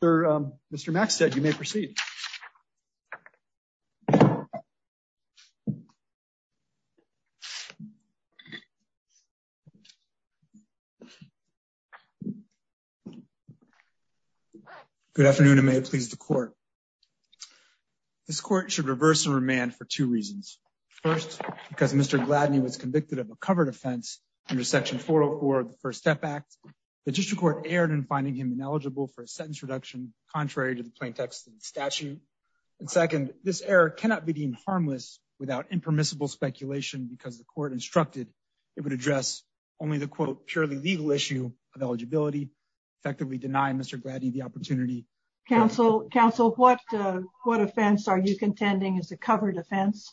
for Mr. Max said you may proceed. Good afternoon and may it please the court. This court should reverse and remand for two reasons. First, because Mr. Gladney was convicted of a covered offense under Section 404 of the First Step Act. The district court erred in finding him eligible for a sentence reduction contrary to the plain text of the statute. And second, this error cannot be deemed harmless without impermissible speculation because the court instructed it would address only the quote, purely legal issue of eligibility, effectively denying Mr. Gladney the opportunity. Counsel, counsel, what, what offense are you contending is a covered offense?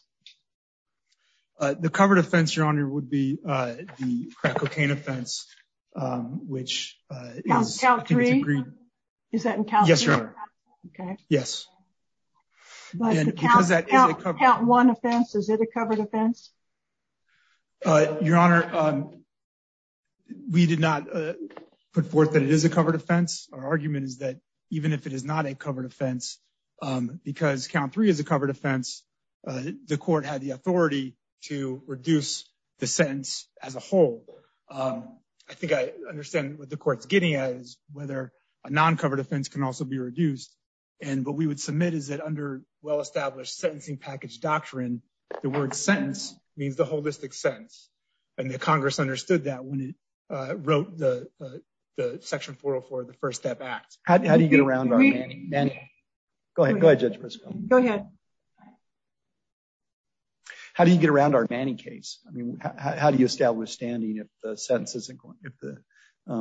The covered offense, Your Honor, would be the crack cocaine offense, which is agreed. Is that in Cal? Yes, Your Honor. Okay. Yes. Count one offense. Is it a covered offense? Your Honor, we did not put forth that it is a covered offense. Our argument is that even if it is not a covered offense, because count three is a covered offense, the court had the authority to reduce the sentence as a whole. I think I understand what the court's getting at is whether a non-covered offense can also be reduced. And what we would submit is that under well-established sentencing package doctrine, the word sentence means the holistic sense. And the Congress understood that when it wrote the Section 404 of the How do you get around our Manny case? I mean, how do you establish standing if the sentence isn't going, if the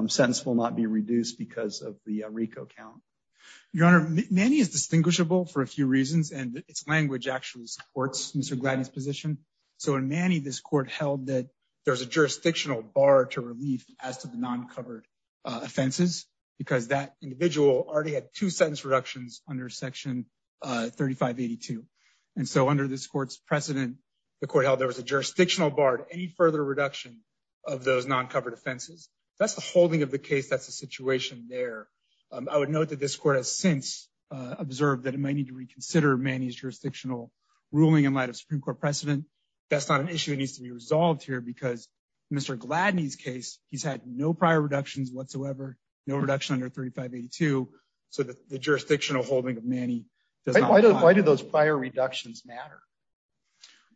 sentence will not be reduced because of the Rico count? Your Honor, Manny is distinguishable for a few reasons and its language actually supports Mr. Gladney's position. So in Manny, this court held that there's a jurisdictional bar to relief as to the non-covered offense, because that individual already had two sentence reductions under Section 3582. And so under this court's precedent, the court held there was a jurisdictional bar to any further reduction of those non-covered offenses. That's the holding of the case. That's the situation there. I would note that this court has since observed that it may need to reconsider Manny's jurisdictional ruling in light of Supreme Court precedent. That's not an issue that needs to be resolved here because Mr. Gladney's case, he's had no prior reductions whatsoever, no reduction under 3582. So the jurisdictional holding of Manny does not apply. Why do those prior reductions matter?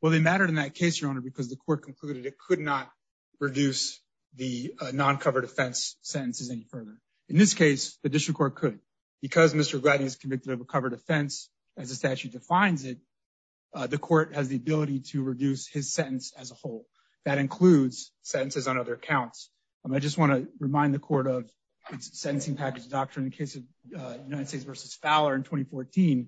Well, they mattered in that case, Your Honor, because the court concluded it could not reduce the non-covered offense sentences any further. In this case, the district court could because Mr. Gladney is convicted of a covered offense as the statute defines it. The court has the ability to reduce his I just want to remind the court of its sentencing package doctrine in the case of United States versus Fowler in 2014. The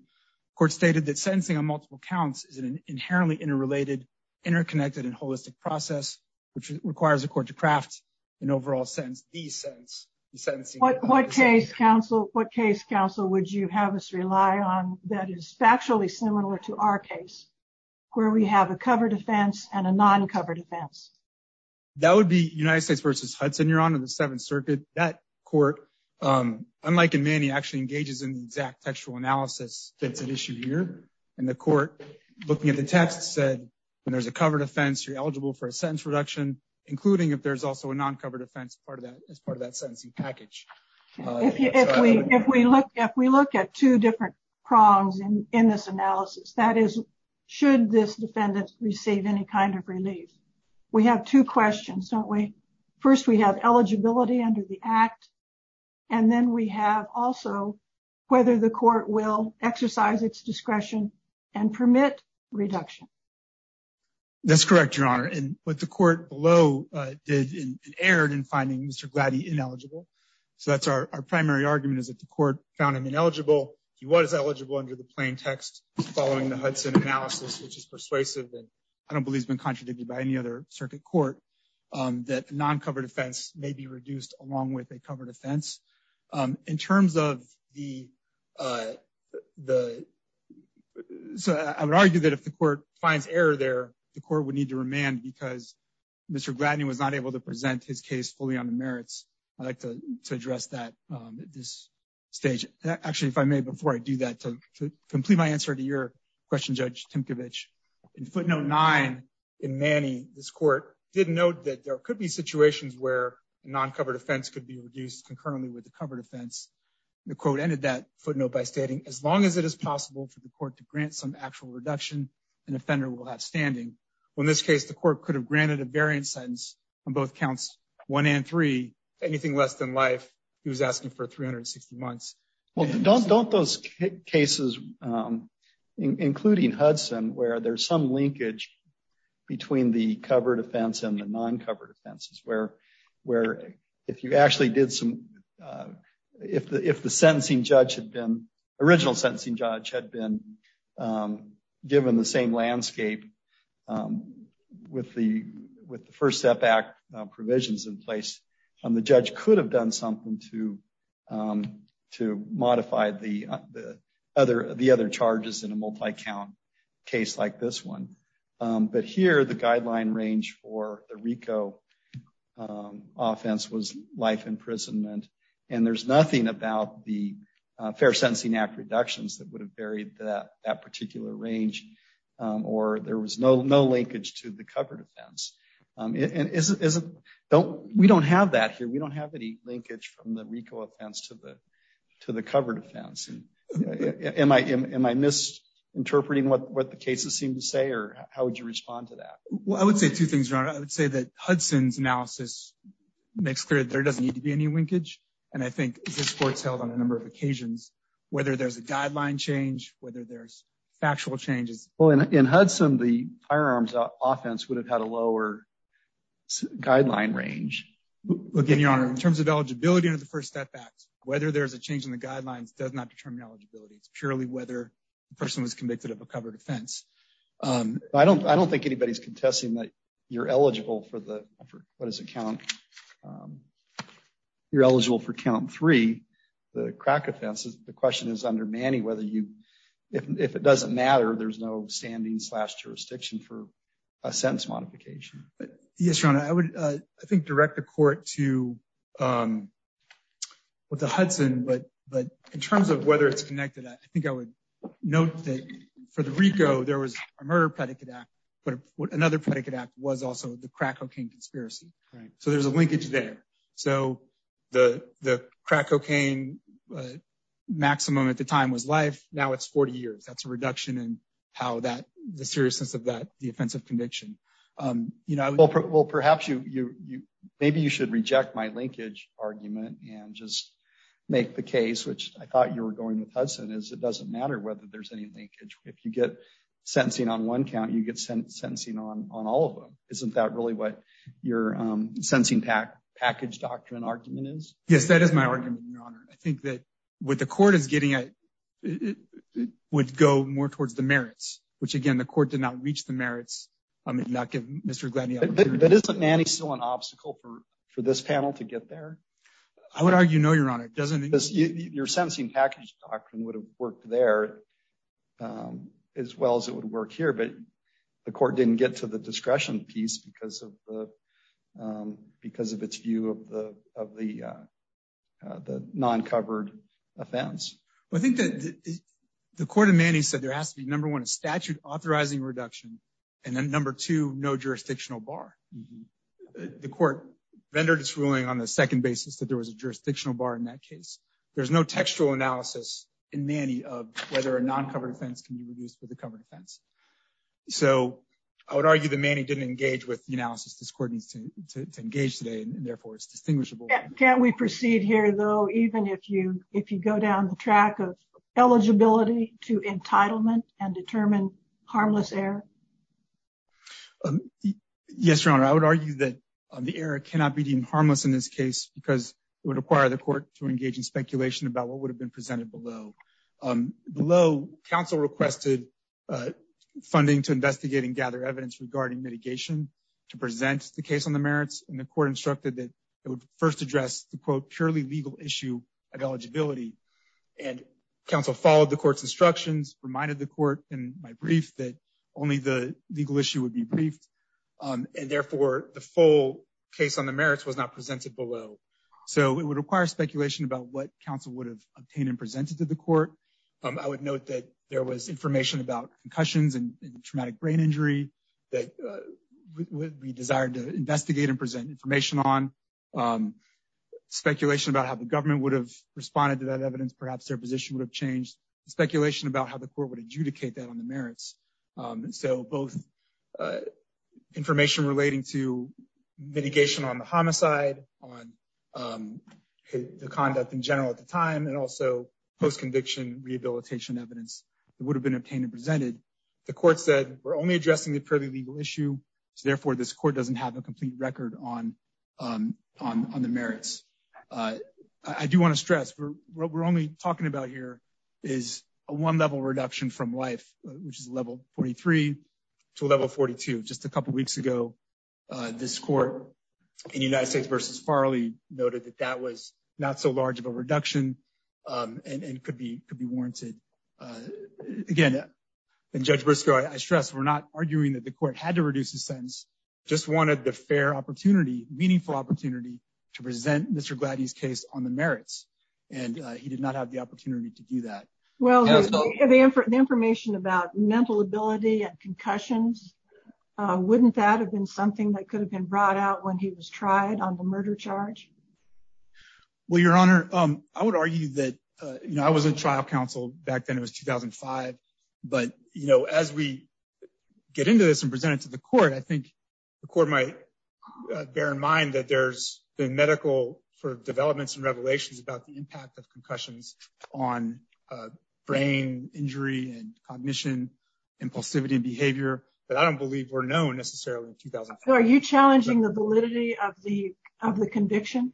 court stated that sentencing on multiple counts is an inherently interrelated, interconnected and holistic process, which requires the court to craft an overall sentence, the sentence. What case, counsel, what case, counsel, would you have us rely on that is factually similar to our case where we have a covered offense and a United States versus Hudson, Your Honor, the Seventh Circuit, that court, unlike in Manny, actually engages in the exact textual analysis that's an issue here. And the court looking at the text said when there's a covered offense, you're eligible for a sentence reduction, including if there's also a non-covered offense. Part of that is part of that sentencing package. If we if we look, if we look at two different prongs in this analysis, that is, should this defendant receive any kind of relief? We have two questions, don't we? First, we have eligibility under the act. And then we have also whether the court will exercise its discretion and permit reduction. That's correct, Your Honor. And what the court below did and erred in finding Mr. Glady ineligible. So that's our primary argument is that the court found him ineligible. He was eligible under the plaintext following the Hudson analysis, which is persuasive. I don't believe it's been contradicted by any other circuit court that non-covered offense may be reduced along with a covered offense in terms of the the. So I would argue that if the court finds error there, the court would need to remand because Mr. Glady was not able to present his case fully on the merits. I'd like to address that at this stage. Actually, if I may, before I do that, to complete my answer to your question, Judge Timkovich, in footnote nine in Manny, this court did note that there could be situations where a non-covered offense could be reduced concurrently with the covered offense. The quote ended that footnote by stating, as long as it is possible for the court to grant some actual reduction, an offender will have standing. Well, in this case, the court could have granted a variant sentence on both counts one and three, anything less than life. He was asking for 360 months. Well, don't don't those cases, including Hudson, where there's some linkage between the covered offense and the non-covered offenses, where where if you actually did some if the if the sentencing judge had been original sentencing judge had been given the same landscape with the with the First Step Act provisions in place and the judge could have done something to to modify the other the other charges in a multi-count case like this one. But here, the guideline range for the RICO offense was life imprisonment. And there's nothing about the Fair Sentencing Act reductions that would have varied that that particular range or there was no no linkage to the covered offense. And isn't isn't don't we don't have that here. We don't have any linkage from the RICO offense to the to the covered offense. And am I am I misinterpreting what the cases seem to say or how would you respond to that? Well, I would say two things. I would say that Hudson's analysis makes clear that there doesn't need to be any linkage. And I think this court's held on a number of occasions, whether there's a guideline change, whether there's factual changes in Hudson, the firearms offense would have had a lower guideline range. In terms of eligibility under the First Step Act, whether there's a change in the guidelines does not determine eligibility. It's purely whether the person was convicted of a covered offense. I don't I don't think anybody's contesting that you're eligible for the for what is a count. You're eligible for count three, the crack offenses. The question is under Manny, whether you if it doesn't matter, there's no standing slash jurisdiction for a sentence modification. Yes, your honor, I would, I think, direct the court to with the Hudson. But but in terms of whether it's connected, I think I would note that for the RICO, there was a murder predicate act. But another predicate act was also the crack cocaine conspiracy. So there's a linkage there. So the the crack cocaine maximum at the time was life. Now it's 40 years. That's a reduction in how that the seriousness of that the offensive conviction, you know, well, perhaps you you maybe you should reject my linkage argument and just make the case which I thought you were going with Hudson is it doesn't matter whether there's any linkage. If you get sentencing on one count, you get sentencing on on all of them. Isn't that really what your sentencing pack package doctrine argument is? Yes, that is my argument, your honor. I think that with the court is getting it would go more towards the merits, which, again, the court did not reach the merits. I mean, not give Mr. Gladney up. But isn't Manny still an obstacle for for this panel to get there? I would argue, no, your honor, doesn't this your sentencing package doctrine would have worked there as well as it would work here. But the court didn't get to the discretion piece because of the because of its view of the of the the non-covered offense. Well, I think that the court of Manny said there has to be, number one, a statute authorizing reduction and then number two, no jurisdictional bar. The court rendered its ruling on the second basis that there was a jurisdictional bar in that case. There's no textual analysis in Manny of whether a non-covered offense can be reduced for the covered offense. So I would argue the Manny didn't engage with the analysis. This court needs to engage today and therefore it's distinguishable. Can we proceed here, though, even if you if you go down the track of eligibility to entitlement and determine harmless error? Yes, your honor, I would argue that the error cannot be deemed harmless in this case because it would require the court to engage in speculation about what would have been presented below. Below, counsel requested funding to investigate and gather evidence regarding mitigation to present the case on the merits. And the court instructed that it would first address the, quote, purely legal issue of eligibility. And counsel followed the court's instructions, reminded the court in my brief that only the legal issue would be briefed. And therefore, the full case on the merits was not presented below. So it would require speculation about what counsel would have obtained and presented to the court. I would note that there was information about concussions and traumatic brain injury that would be desired to investigate and present information on speculation about how the government would have responded to that evidence. Perhaps their position would have changed speculation about how the court would adjudicate that on the merits. So both information relating to mitigation on the homicide, on the conduct in general at the time, and also post-conviction rehabilitation evidence that would have been obtained and presented. The court said we're only addressing the purely legal issue. So therefore, this court doesn't have a complete record on the merits. I do want to stress what we're only talking about here is a one level reduction from life, which is level 43 to level 42. Just a couple of weeks ago, this court in United States v. Farley noted that that was not so large of a reduction and could be warranted. Again, and Judge Briscoe, I stress we're not arguing that the court had to reduce the sentence, just wanted the fair opportunity, meaningful opportunity to present Mr. Gladdy's case on the merits. And he did not have the opportunity to do that. Well, the information about mental ability and concussions, wouldn't that have been something that could have been brought out when he was tried on the murder charge? Well, Your Honor, I would argue that, you know, I was in trial counsel back then it was 2005. But, you know, as we get into this and present it to the court, I think the court might bear in mind that there's been medical sort of developments and revelations about the impact of concussions on brain injury and cognition, impulsivity and behavior. But I don't believe we're known necessarily in 2005. So are you challenging the validity of the conviction?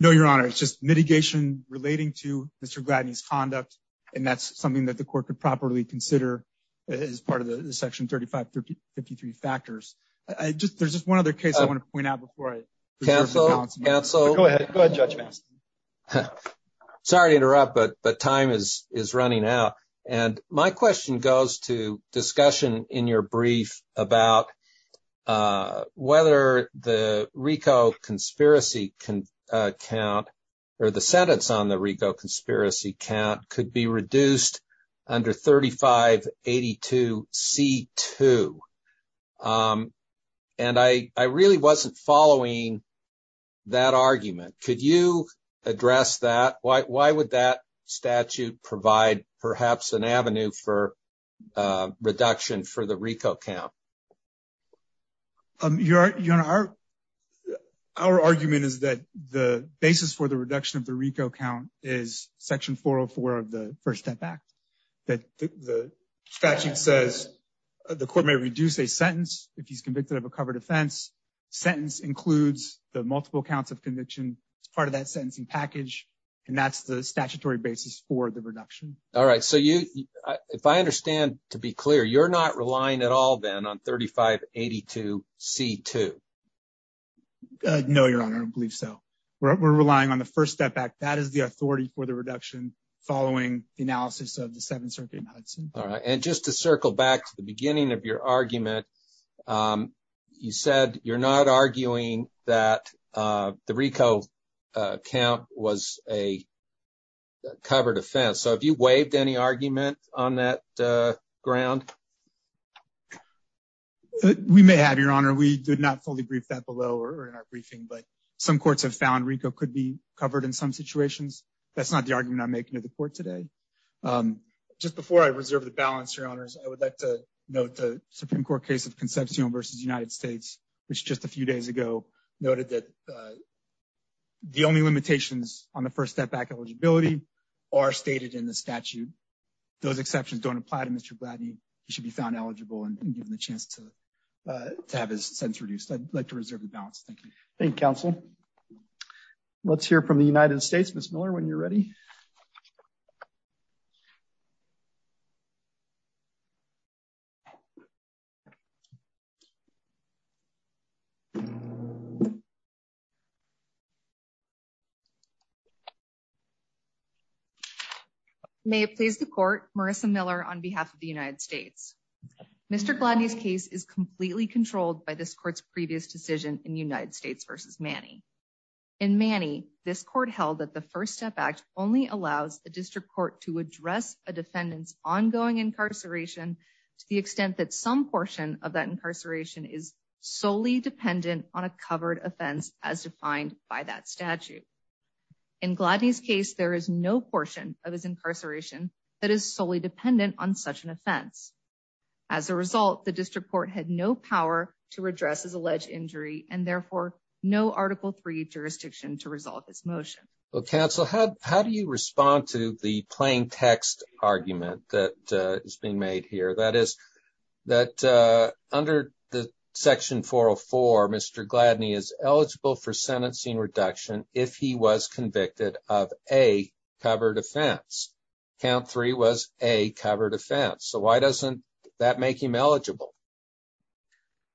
No, Your Honor, it's just mitigation relating to Mr. Gladdy's conduct. And that's something that the court could properly consider as part of the section 3553 factors. There's just one other case I want to point out before I- Cancel, cancel. Go ahead, go ahead Judge Mastin. Sorry to interrupt, but time is running out. And my question goes to discussion in your brief about whether the RICO conspiracy count or the sentence on the RICO conspiracy count could be reduced under 3582 C2. And I really wasn't following that argument. Could you address that? Why would that statute provide perhaps an avenue for reduction for the RICO count? Your Honor, our argument is that the basis for the reduction of the RICO count is section 404 of the First Step Act. The statute says the court may reduce a sentence if he's convicted of a conviction as part of that sentencing package. And that's the statutory basis for the reduction. All right. So if I understand to be clear, you're not relying at all then on 3582 C2? No, Your Honor, I don't believe so. We're relying on the First Step Act. That is the authority for the reduction following the analysis of the Seventh Circuit in Hudson. All right. And just to circle back to the beginning of your argument, you said you're not arguing that the RICO count was a covered offense. So have you waived any argument on that ground? We may have, Your Honor. We did not fully brief that below or in our briefing. But some courts have found RICO could be covered in some situations. That's not the argument I'm making to the court today. Just before I reserve the balance, Your Honors, I would like to Supreme Court case of Concepcion v. United States, which just a few days ago noted that the only limitations on the First Step Act eligibility are stated in the statute. Those exceptions don't apply to Mr. Blatney. He should be found eligible and given the chance to have his sentence reduced. I'd like to reserve the balance. Thank you. Thank you, counsel. Let's hear from the United States. Ms. Miller, when you're ready. Thank you, Your Honor. May it please the court, Marissa Miller on behalf of the United States. Mr. Blatney's case is completely controlled by this court's previous decision in United States v. Manny. In Manny, this court held that the First Step Act only allows the district court to address a defendant's portion of that incarceration is solely dependent on a covered offense as defined by that statute. In Blatney's case, there is no portion of his incarceration that is solely dependent on such an offense. As a result, the district court had no power to address his alleged injury and therefore no Article III jurisdiction to resolve this motion. Counsel, how do you respond to the that under the Section 404, Mr. Blatney is eligible for sentencing reduction if he was convicted of a covered offense? Count three was a covered offense. So why doesn't that make him eligible?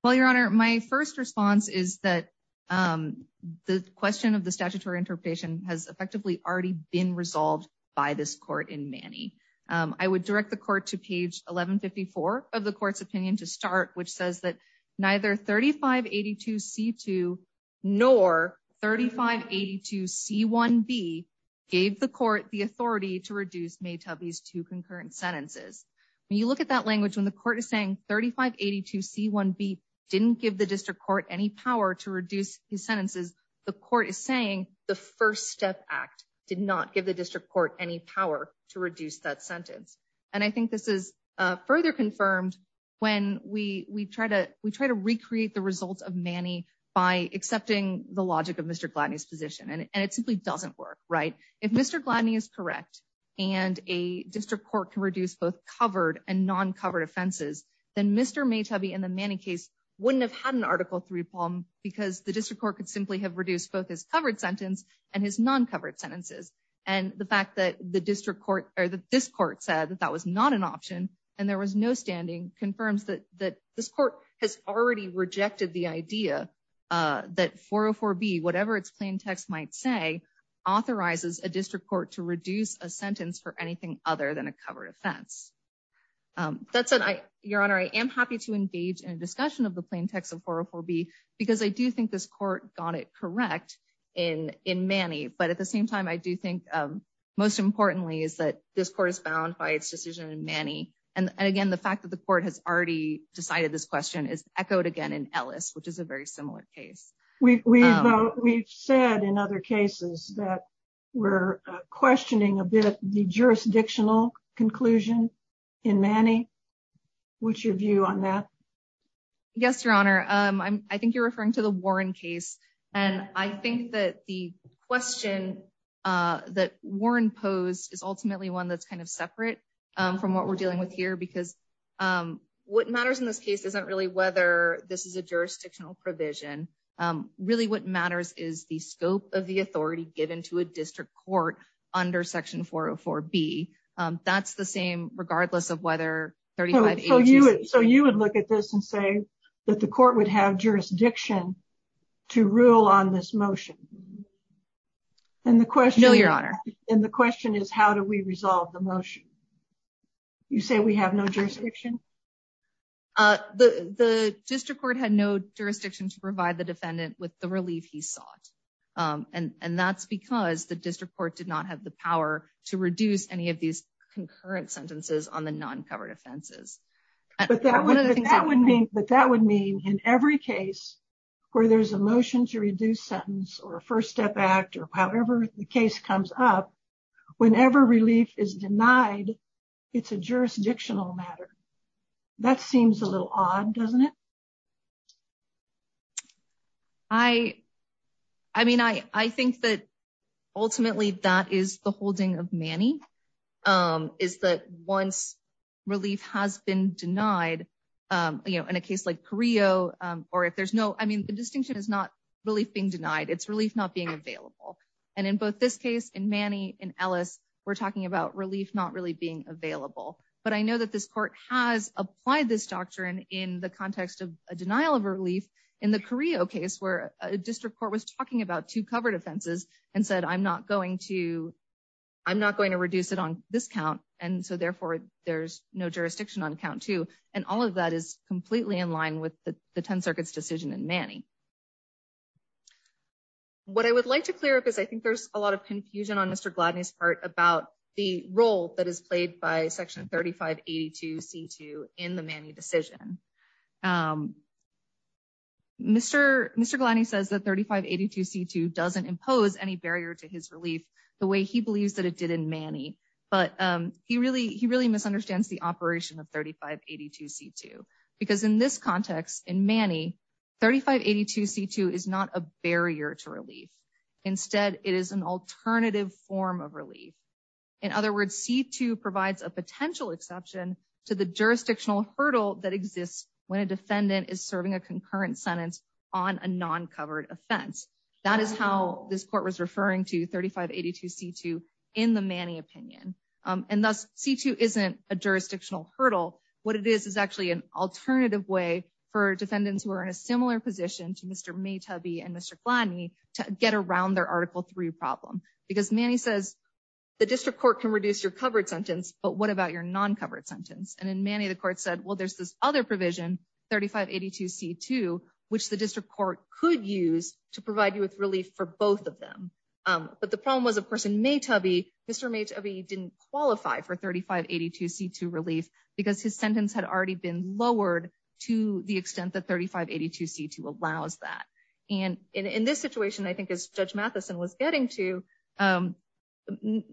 Well, Your Honor, my first response is that the question of the statutory interpretation has effectively already been resolved by this court in Manny. I would direct the court to page 1154 of the court's opinion to start, which says that neither 3582c2 nor 3582c1b gave the court the authority to reduce Maytubby's two concurrent sentences. When you look at that language, when the court is saying 3582c1b didn't give the district court any power to reduce his sentences, the court is saying the First Step Act did not give the district court any power to reduce that further confirmed when we try to recreate the results of Manny by accepting the logic of Mr. Blatney's position. And it simply doesn't work, right? If Mr. Blatney is correct and a district court can reduce both covered and non-covered offenses, then Mr. Maytubby in the Manny case wouldn't have had an Article III problem because the district court could simply have reduced both his covered sentence and his non-covered sentences. And the fact that this court said that was not an option and there was no standing confirms that this court has already rejected the idea that 404b, whatever its plain text might say, authorizes a district court to reduce a sentence for anything other than a covered offense. That said, Your Honor, I am happy to engage in a discussion of the plain text of 404b because I do think this court got it correct in Manny. But at And again, the fact that the court has already decided this question is echoed again in Ellis, which is a very similar case. We've said in other cases that we're questioning a bit the jurisdictional conclusion in Manny. What's your view on that? Yes, Your Honor. I think you're referring to the Warren case. And I think that the question that Warren posed is ultimately one that's kind of from what we're dealing with here, because what matters in this case isn't really whether this is a jurisdictional provision. Really, what matters is the scope of the authority given to a district court under Section 404b. That's the same regardless of whether 35A... So you would look at this and say that the court would have jurisdiction to rule on this motion. No, Your Honor. And the question is, how do we resolve the motion? You say we have no jurisdiction? The district court had no jurisdiction to provide the defendant with the relief he sought. And that's because the district court did not have the power to reduce any of these concurrent sentences on the non-covered offenses. But that would mean in every case where there's a motion to reduce sentence or a case comes up, whenever relief is denied, it's a jurisdictional matter. That seems a little odd, doesn't it? I mean, I think that ultimately that is the holding of Manny, is that once relief has been denied, you know, in a case like Carrillo, or if there's no... I mean, the distinction is not relief being denied, it's relief not being available. And in both this case, in Manny, in Ellis, we're talking about relief not really being available. But I know that this court has applied this doctrine in the context of a denial of relief in the Carrillo case, where a district court was talking about two covered offenses and said, I'm not going to... I'm not going to reduce it on this count, and so therefore there's no jurisdiction on count two. And all of that is completely in line with the 10th Circuit's decision in Manny. What I would like to clear up is I think there's a lot of confusion on Mr. Gladney's part about the role that is played by Section 3582C2 in the Manny decision. Mr. Gladney says that 3582C2 doesn't impose any barrier to his relief the way he believes that it did in Manny, but he really misunderstands the operation of 3582C2, because in this context, in Manny, 3582C2 is not a barrier to relief. Instead, it is an alternative form of relief. In other words, C2 provides a potential exception to the jurisdictional hurdle that exists when a defendant is serving a concurrent sentence on a non-covered offense. That is how this court was referring to 3582C2 in the Manny opinion. And thus, C2 isn't a alternative way for defendants who are in a similar position to Mr. Maytubey and Mr. Gladney to get around their Article III problem. Because Manny says the district court can reduce your covered sentence, but what about your non-covered sentence? And in Manny, the court said, well, there's this other provision, 3582C2, which the district court could use to provide you with relief for both of them. But the problem was, of course, in Maytubey, Mr. Maytubey didn't qualify for 3582C2 relief because his sentence had already been lowered to the extent that 3582C2 allows that. And in this situation, I think as Judge Matheson was getting to, Mr.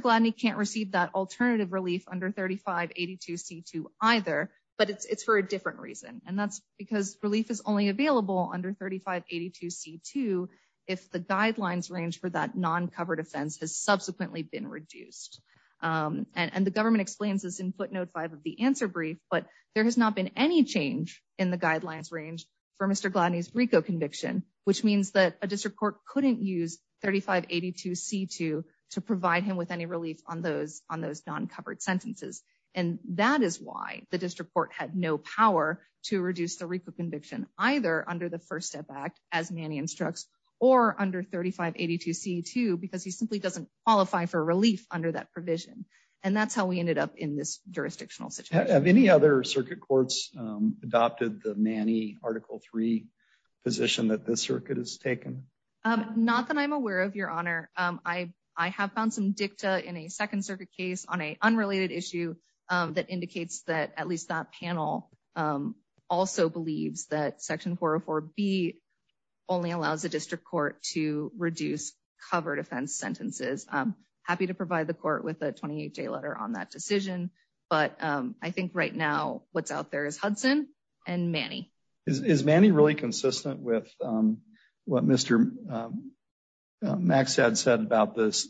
Gladney can't receive that alternative relief under 3582C2 either, but it's for a different reason. And that's because relief is only available under 3582C2 if the guidelines range for that non-covered offense has subsequently been reduced. And the government explains this in footnote five of the answer brief, but there has not been any change in the guidelines range for Mr. Gladney's RICO conviction, which means that a district court couldn't use 3582C2 to provide him with any relief on those non-covered sentences. And that is why the district court had no power to reduce the RICO conviction, either under the First Step Act, as Manny instructs, or under 3582C2, because he simply doesn't qualify for relief under that provision. And that's how we ended up in this jurisdictional situation. Have any other circuit courts adopted the Manny Article 3 position that this circuit has taken? Not that I'm aware of, Your Honor. I have found some dicta in a second circuit case on an unrelated issue that indicates that at least that panel also believes that Section 404B only allows the district court to reduce covered offense sentences. I'm happy to provide the court with a 28-day letter on that decision, but I think right now what's out there is Hudson and Manny. Is Manny really consistent with what Mr. Maxad said about this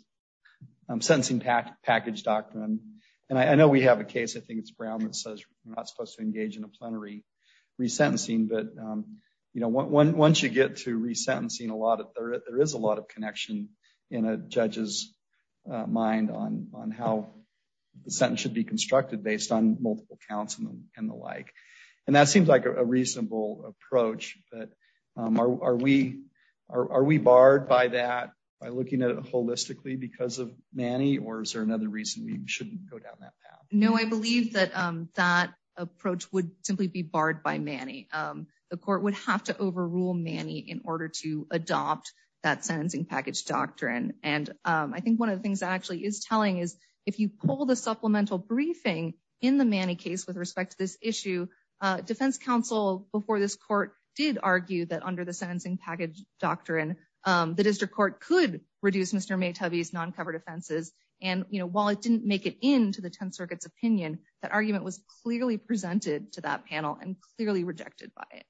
sentencing package doctrine? And I know we have a case, I think it's Brown, that says you're not supposed to engage in a plenary re-sentencing. But once you get to re-sentencing, there is a lot of connection in a judge's mind on how the sentence should be constructed based on multiple counts and the like. And that seems like a reasonable approach, but are we barred by that by looking at it holistically because of Manny? Or is there another reason we shouldn't go down that path? No, I believe that that approach would simply be barred by Manny. The court would have to overrule Manny in order to adopt that sentencing package doctrine. And I think one of the things that actually is telling is if you pull the supplemental briefing in the Manny case with respect to this issue, defense counsel before this court did argue that under the sentencing package doctrine, the district court could reduce Mr. Maytubey's non-covered offenses. And while it didn't make it into the 10th Circuit's opinion, that argument was clearly presented to that panel and clearly rejected by it.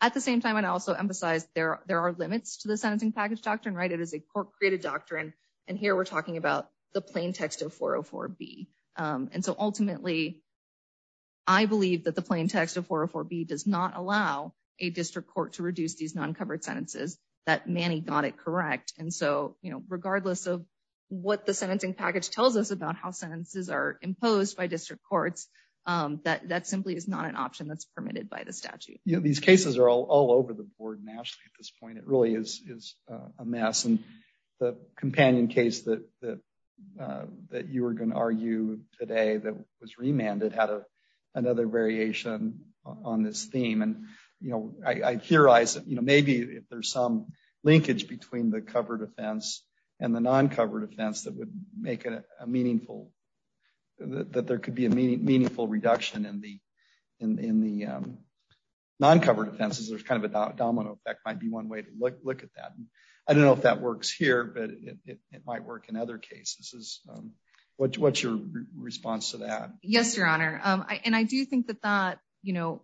At the same time, I'd also emphasize there are limits to the sentencing package doctrine. It is a court-created doctrine, and here we're ultimately, I believe that the plain text of 404B does not allow a district court to reduce these non-covered sentences that Manny got it correct. And so, you know, regardless of what the sentencing package tells us about how sentences are imposed by district courts, that simply is not an option that's permitted by the statute. Yeah, these cases are all over the board nationally at this point. It really is a mess. And the companion case that you were going to argue today that was remanded had another variation on this theme. And, you know, I theorize that, you know, maybe if there's some linkage between the covered offense and the non-covered offense that would make it a meaningful, that there could be a meaningful reduction in the non-covered offenses. There's kind of a domino effect might be one way to look at that. And I don't know if that works here, but it might work in other cases. What's your response to that? Yes, Your Honor. And I do think that that, you know,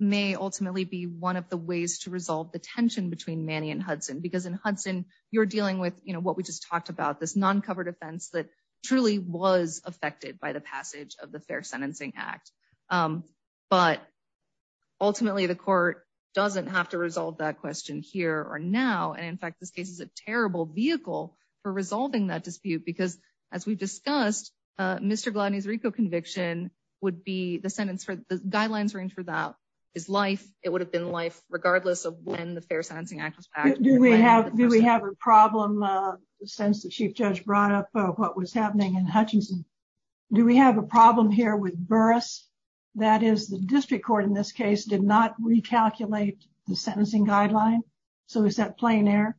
may ultimately be one of the ways to resolve the tension between Manny and Hudson, because in Hudson, you're dealing with, you know, what we just talked about, this non-covered offense that truly was affected by the passage of the Fair Sentencing Act. But ultimately, the court doesn't have to resolve that question here or now. And in fact, this case is a terrible vehicle for resolving that dispute, because as we've discussed, Mr. Gladney's RICO conviction would be the sentence for the guidelines range for that is life. It would have been life regardless of when the Fair Sentencing Act was passed. Do we have a problem since the Chief Judge brought up what was happening in Hutchinson? Do we have a problem here with Burris? That is the district court in this case did not recalculate the sentencing guideline. So is that plain error?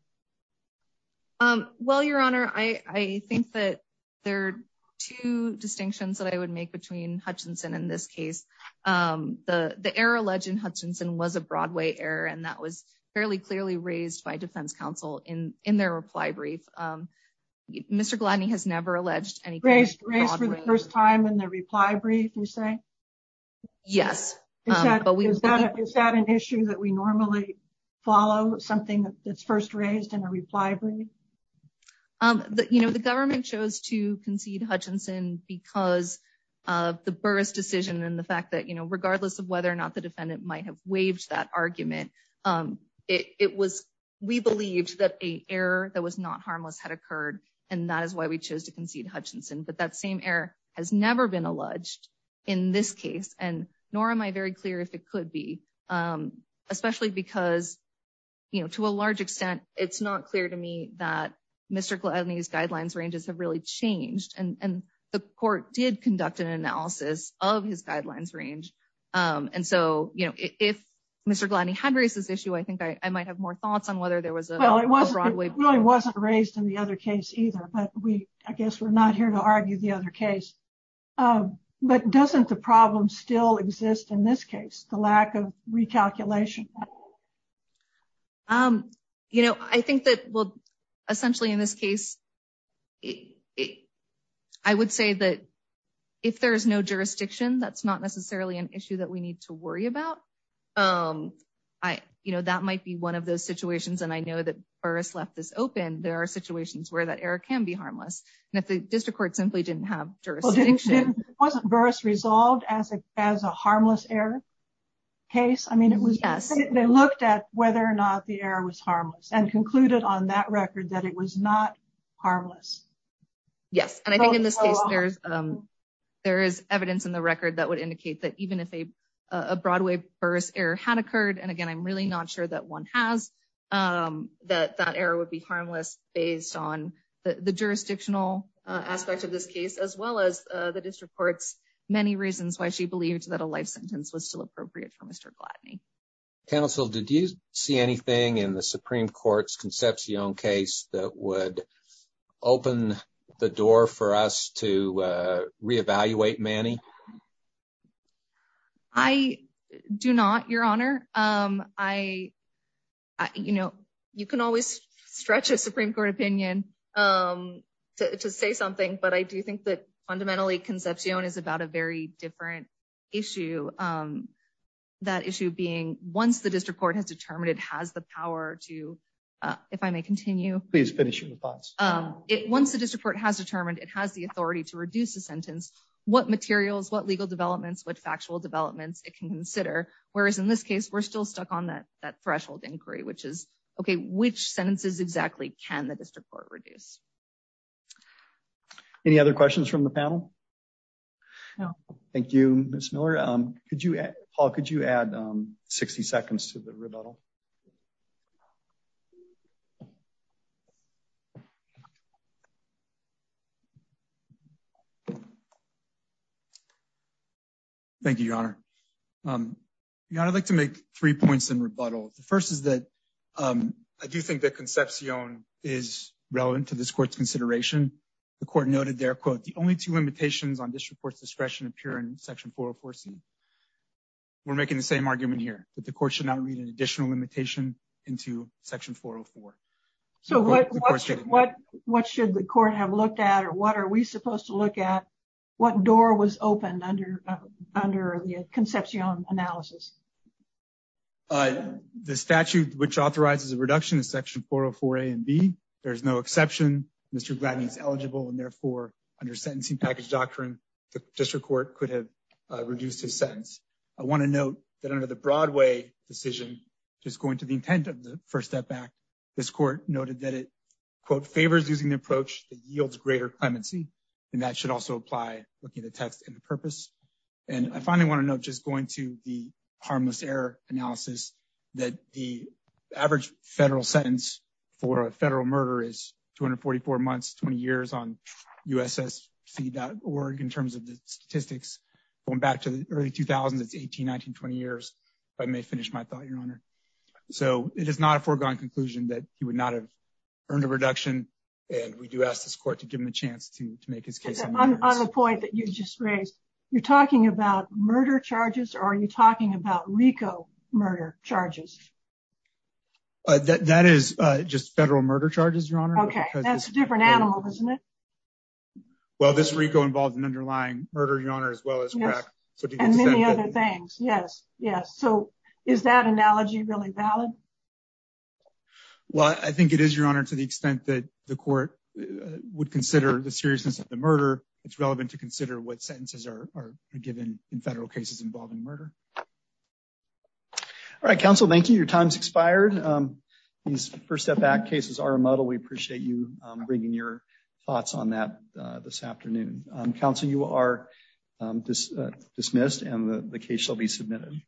Well, Your Honor, I think that there are two distinctions that I would make between Hutchinson in this case. The error alleged in Hutchinson was a Broadway error, and that was fairly clearly raised by defense counsel in their reply brief. Mr. Gladney has never alleged anything. Raised for the first time in the reply brief, you say? Yes. Is that an issue that we normally follow, something that's first raised in a reply brief? You know, the government chose to concede Hutchinson because of the Burris decision and the fact that, you know, regardless of whether or not the defendant might have waived that argument, we believed that an error that was not harmless had occurred, and that is why we chose to concede in this case. And nor am I very clear if it could be, especially because, you know, to a large extent, it's not clear to me that Mr. Gladney's guidelines ranges have really changed, and the court did conduct an analysis of his guidelines range. And so, you know, if Mr. Gladney had raised this issue, I think I might have more thoughts on whether there was a Broadway error. It really wasn't raised in the other case either, but I guess we're not here to argue the case. But doesn't the problem still exist in this case, the lack of recalculation? You know, I think that, well, essentially in this case, I would say that if there's no jurisdiction, that's not necessarily an issue that we need to worry about. You know, that might be one of those situations, and I know that Burris left this open. There are situations where that error can be harmless. And if the district court simply didn't have jurisdiction. It wasn't Burris resolved as a harmless error case. I mean, they looked at whether or not the error was harmless and concluded on that record that it was not harmless. Yes. And I think in this case, there is evidence in the record that would indicate that even if a Broadway Burris error had occurred, and again, I'm really not sure that one has, that that error would be harmless based on the jurisdictional aspect of this case, as well as the district court's many reasons why she believed that a life sentence was still appropriate for Mr. Gladney. Counsel, did you see anything in the Supreme Court's conceptional case that would open the door for us to reevaluate Manny? I do not, Your Honor. I you know, you can always stretch a Supreme Court opinion to say something. But I do think that fundamentally, conception is about a very different issue. That issue being once the district court has determined it has the power to, if I may continue, please finish your thoughts. Once the district court has determined it has the authority to reduce the sentence, what materials, what legal developments, what factual developments it can consider, whereas in this case, we're still stuck on that threshold inquiry, which is, okay, which sentences exactly can the district court reduce? Any other questions from the panel? No. Thank you, Ms. Miller. Could you, Paul, could you add 60 seconds to the rebuttal? Thank you, Your Honor. Your Honor, I'd like to make three points in rebuttal. The first is that I do think that conception is relevant to this court's consideration. The court noted there, quote, the only two limitations on district court's discretion appear in section 404C. We're making the same argument here, that the court should not read an additional limitation into section 404. So what should the court have looked at or what are we supposed to look at? What door was opened under the conception analysis? The statute which authorizes a reduction in section 404A and B, there's no exception. Mr. Gladden is eligible and therefore, under sentencing package doctrine, the district court could have reduced his sentence. I want to note that under the Broadway decision, just going to the intent of the first step back, this court noted that it, quote, favors using the approach that yields greater clemency, and that should also apply looking at the text and the purpose. And I finally want to note, just going to the harmless error analysis, that the average federal sentence for a federal murder is 244 months, 20 years on ussc.org in terms of the statistics. Going back to the early 2000s, it's 18, 19, 20 years. I may finish my thought, your honor. So it is not a foregone conclusion that he would not have earned a reduction, and we do ask this court to give him a chance to make his case. On the point that you just raised, you're talking about murder charges, or are you talking about RICO murder charges? That is just federal murder charges, your honor. That's a different animal, isn't it? Well, this RICO involves an underlying murder, your honor, as well as crack. And many other things, yes, yes. So is that analogy really valid? Well, I think it is, your honor, to the extent that the court would consider the seriousness of the murder, it's relevant to consider what sentences are given in federal cases involving murder. All right, counsel, thank you. Your time's expired. These first step back cases are muddled. We appreciate you bringing your thoughts on that this afternoon. Counsel, you are dismissed, and the case shall be submitted.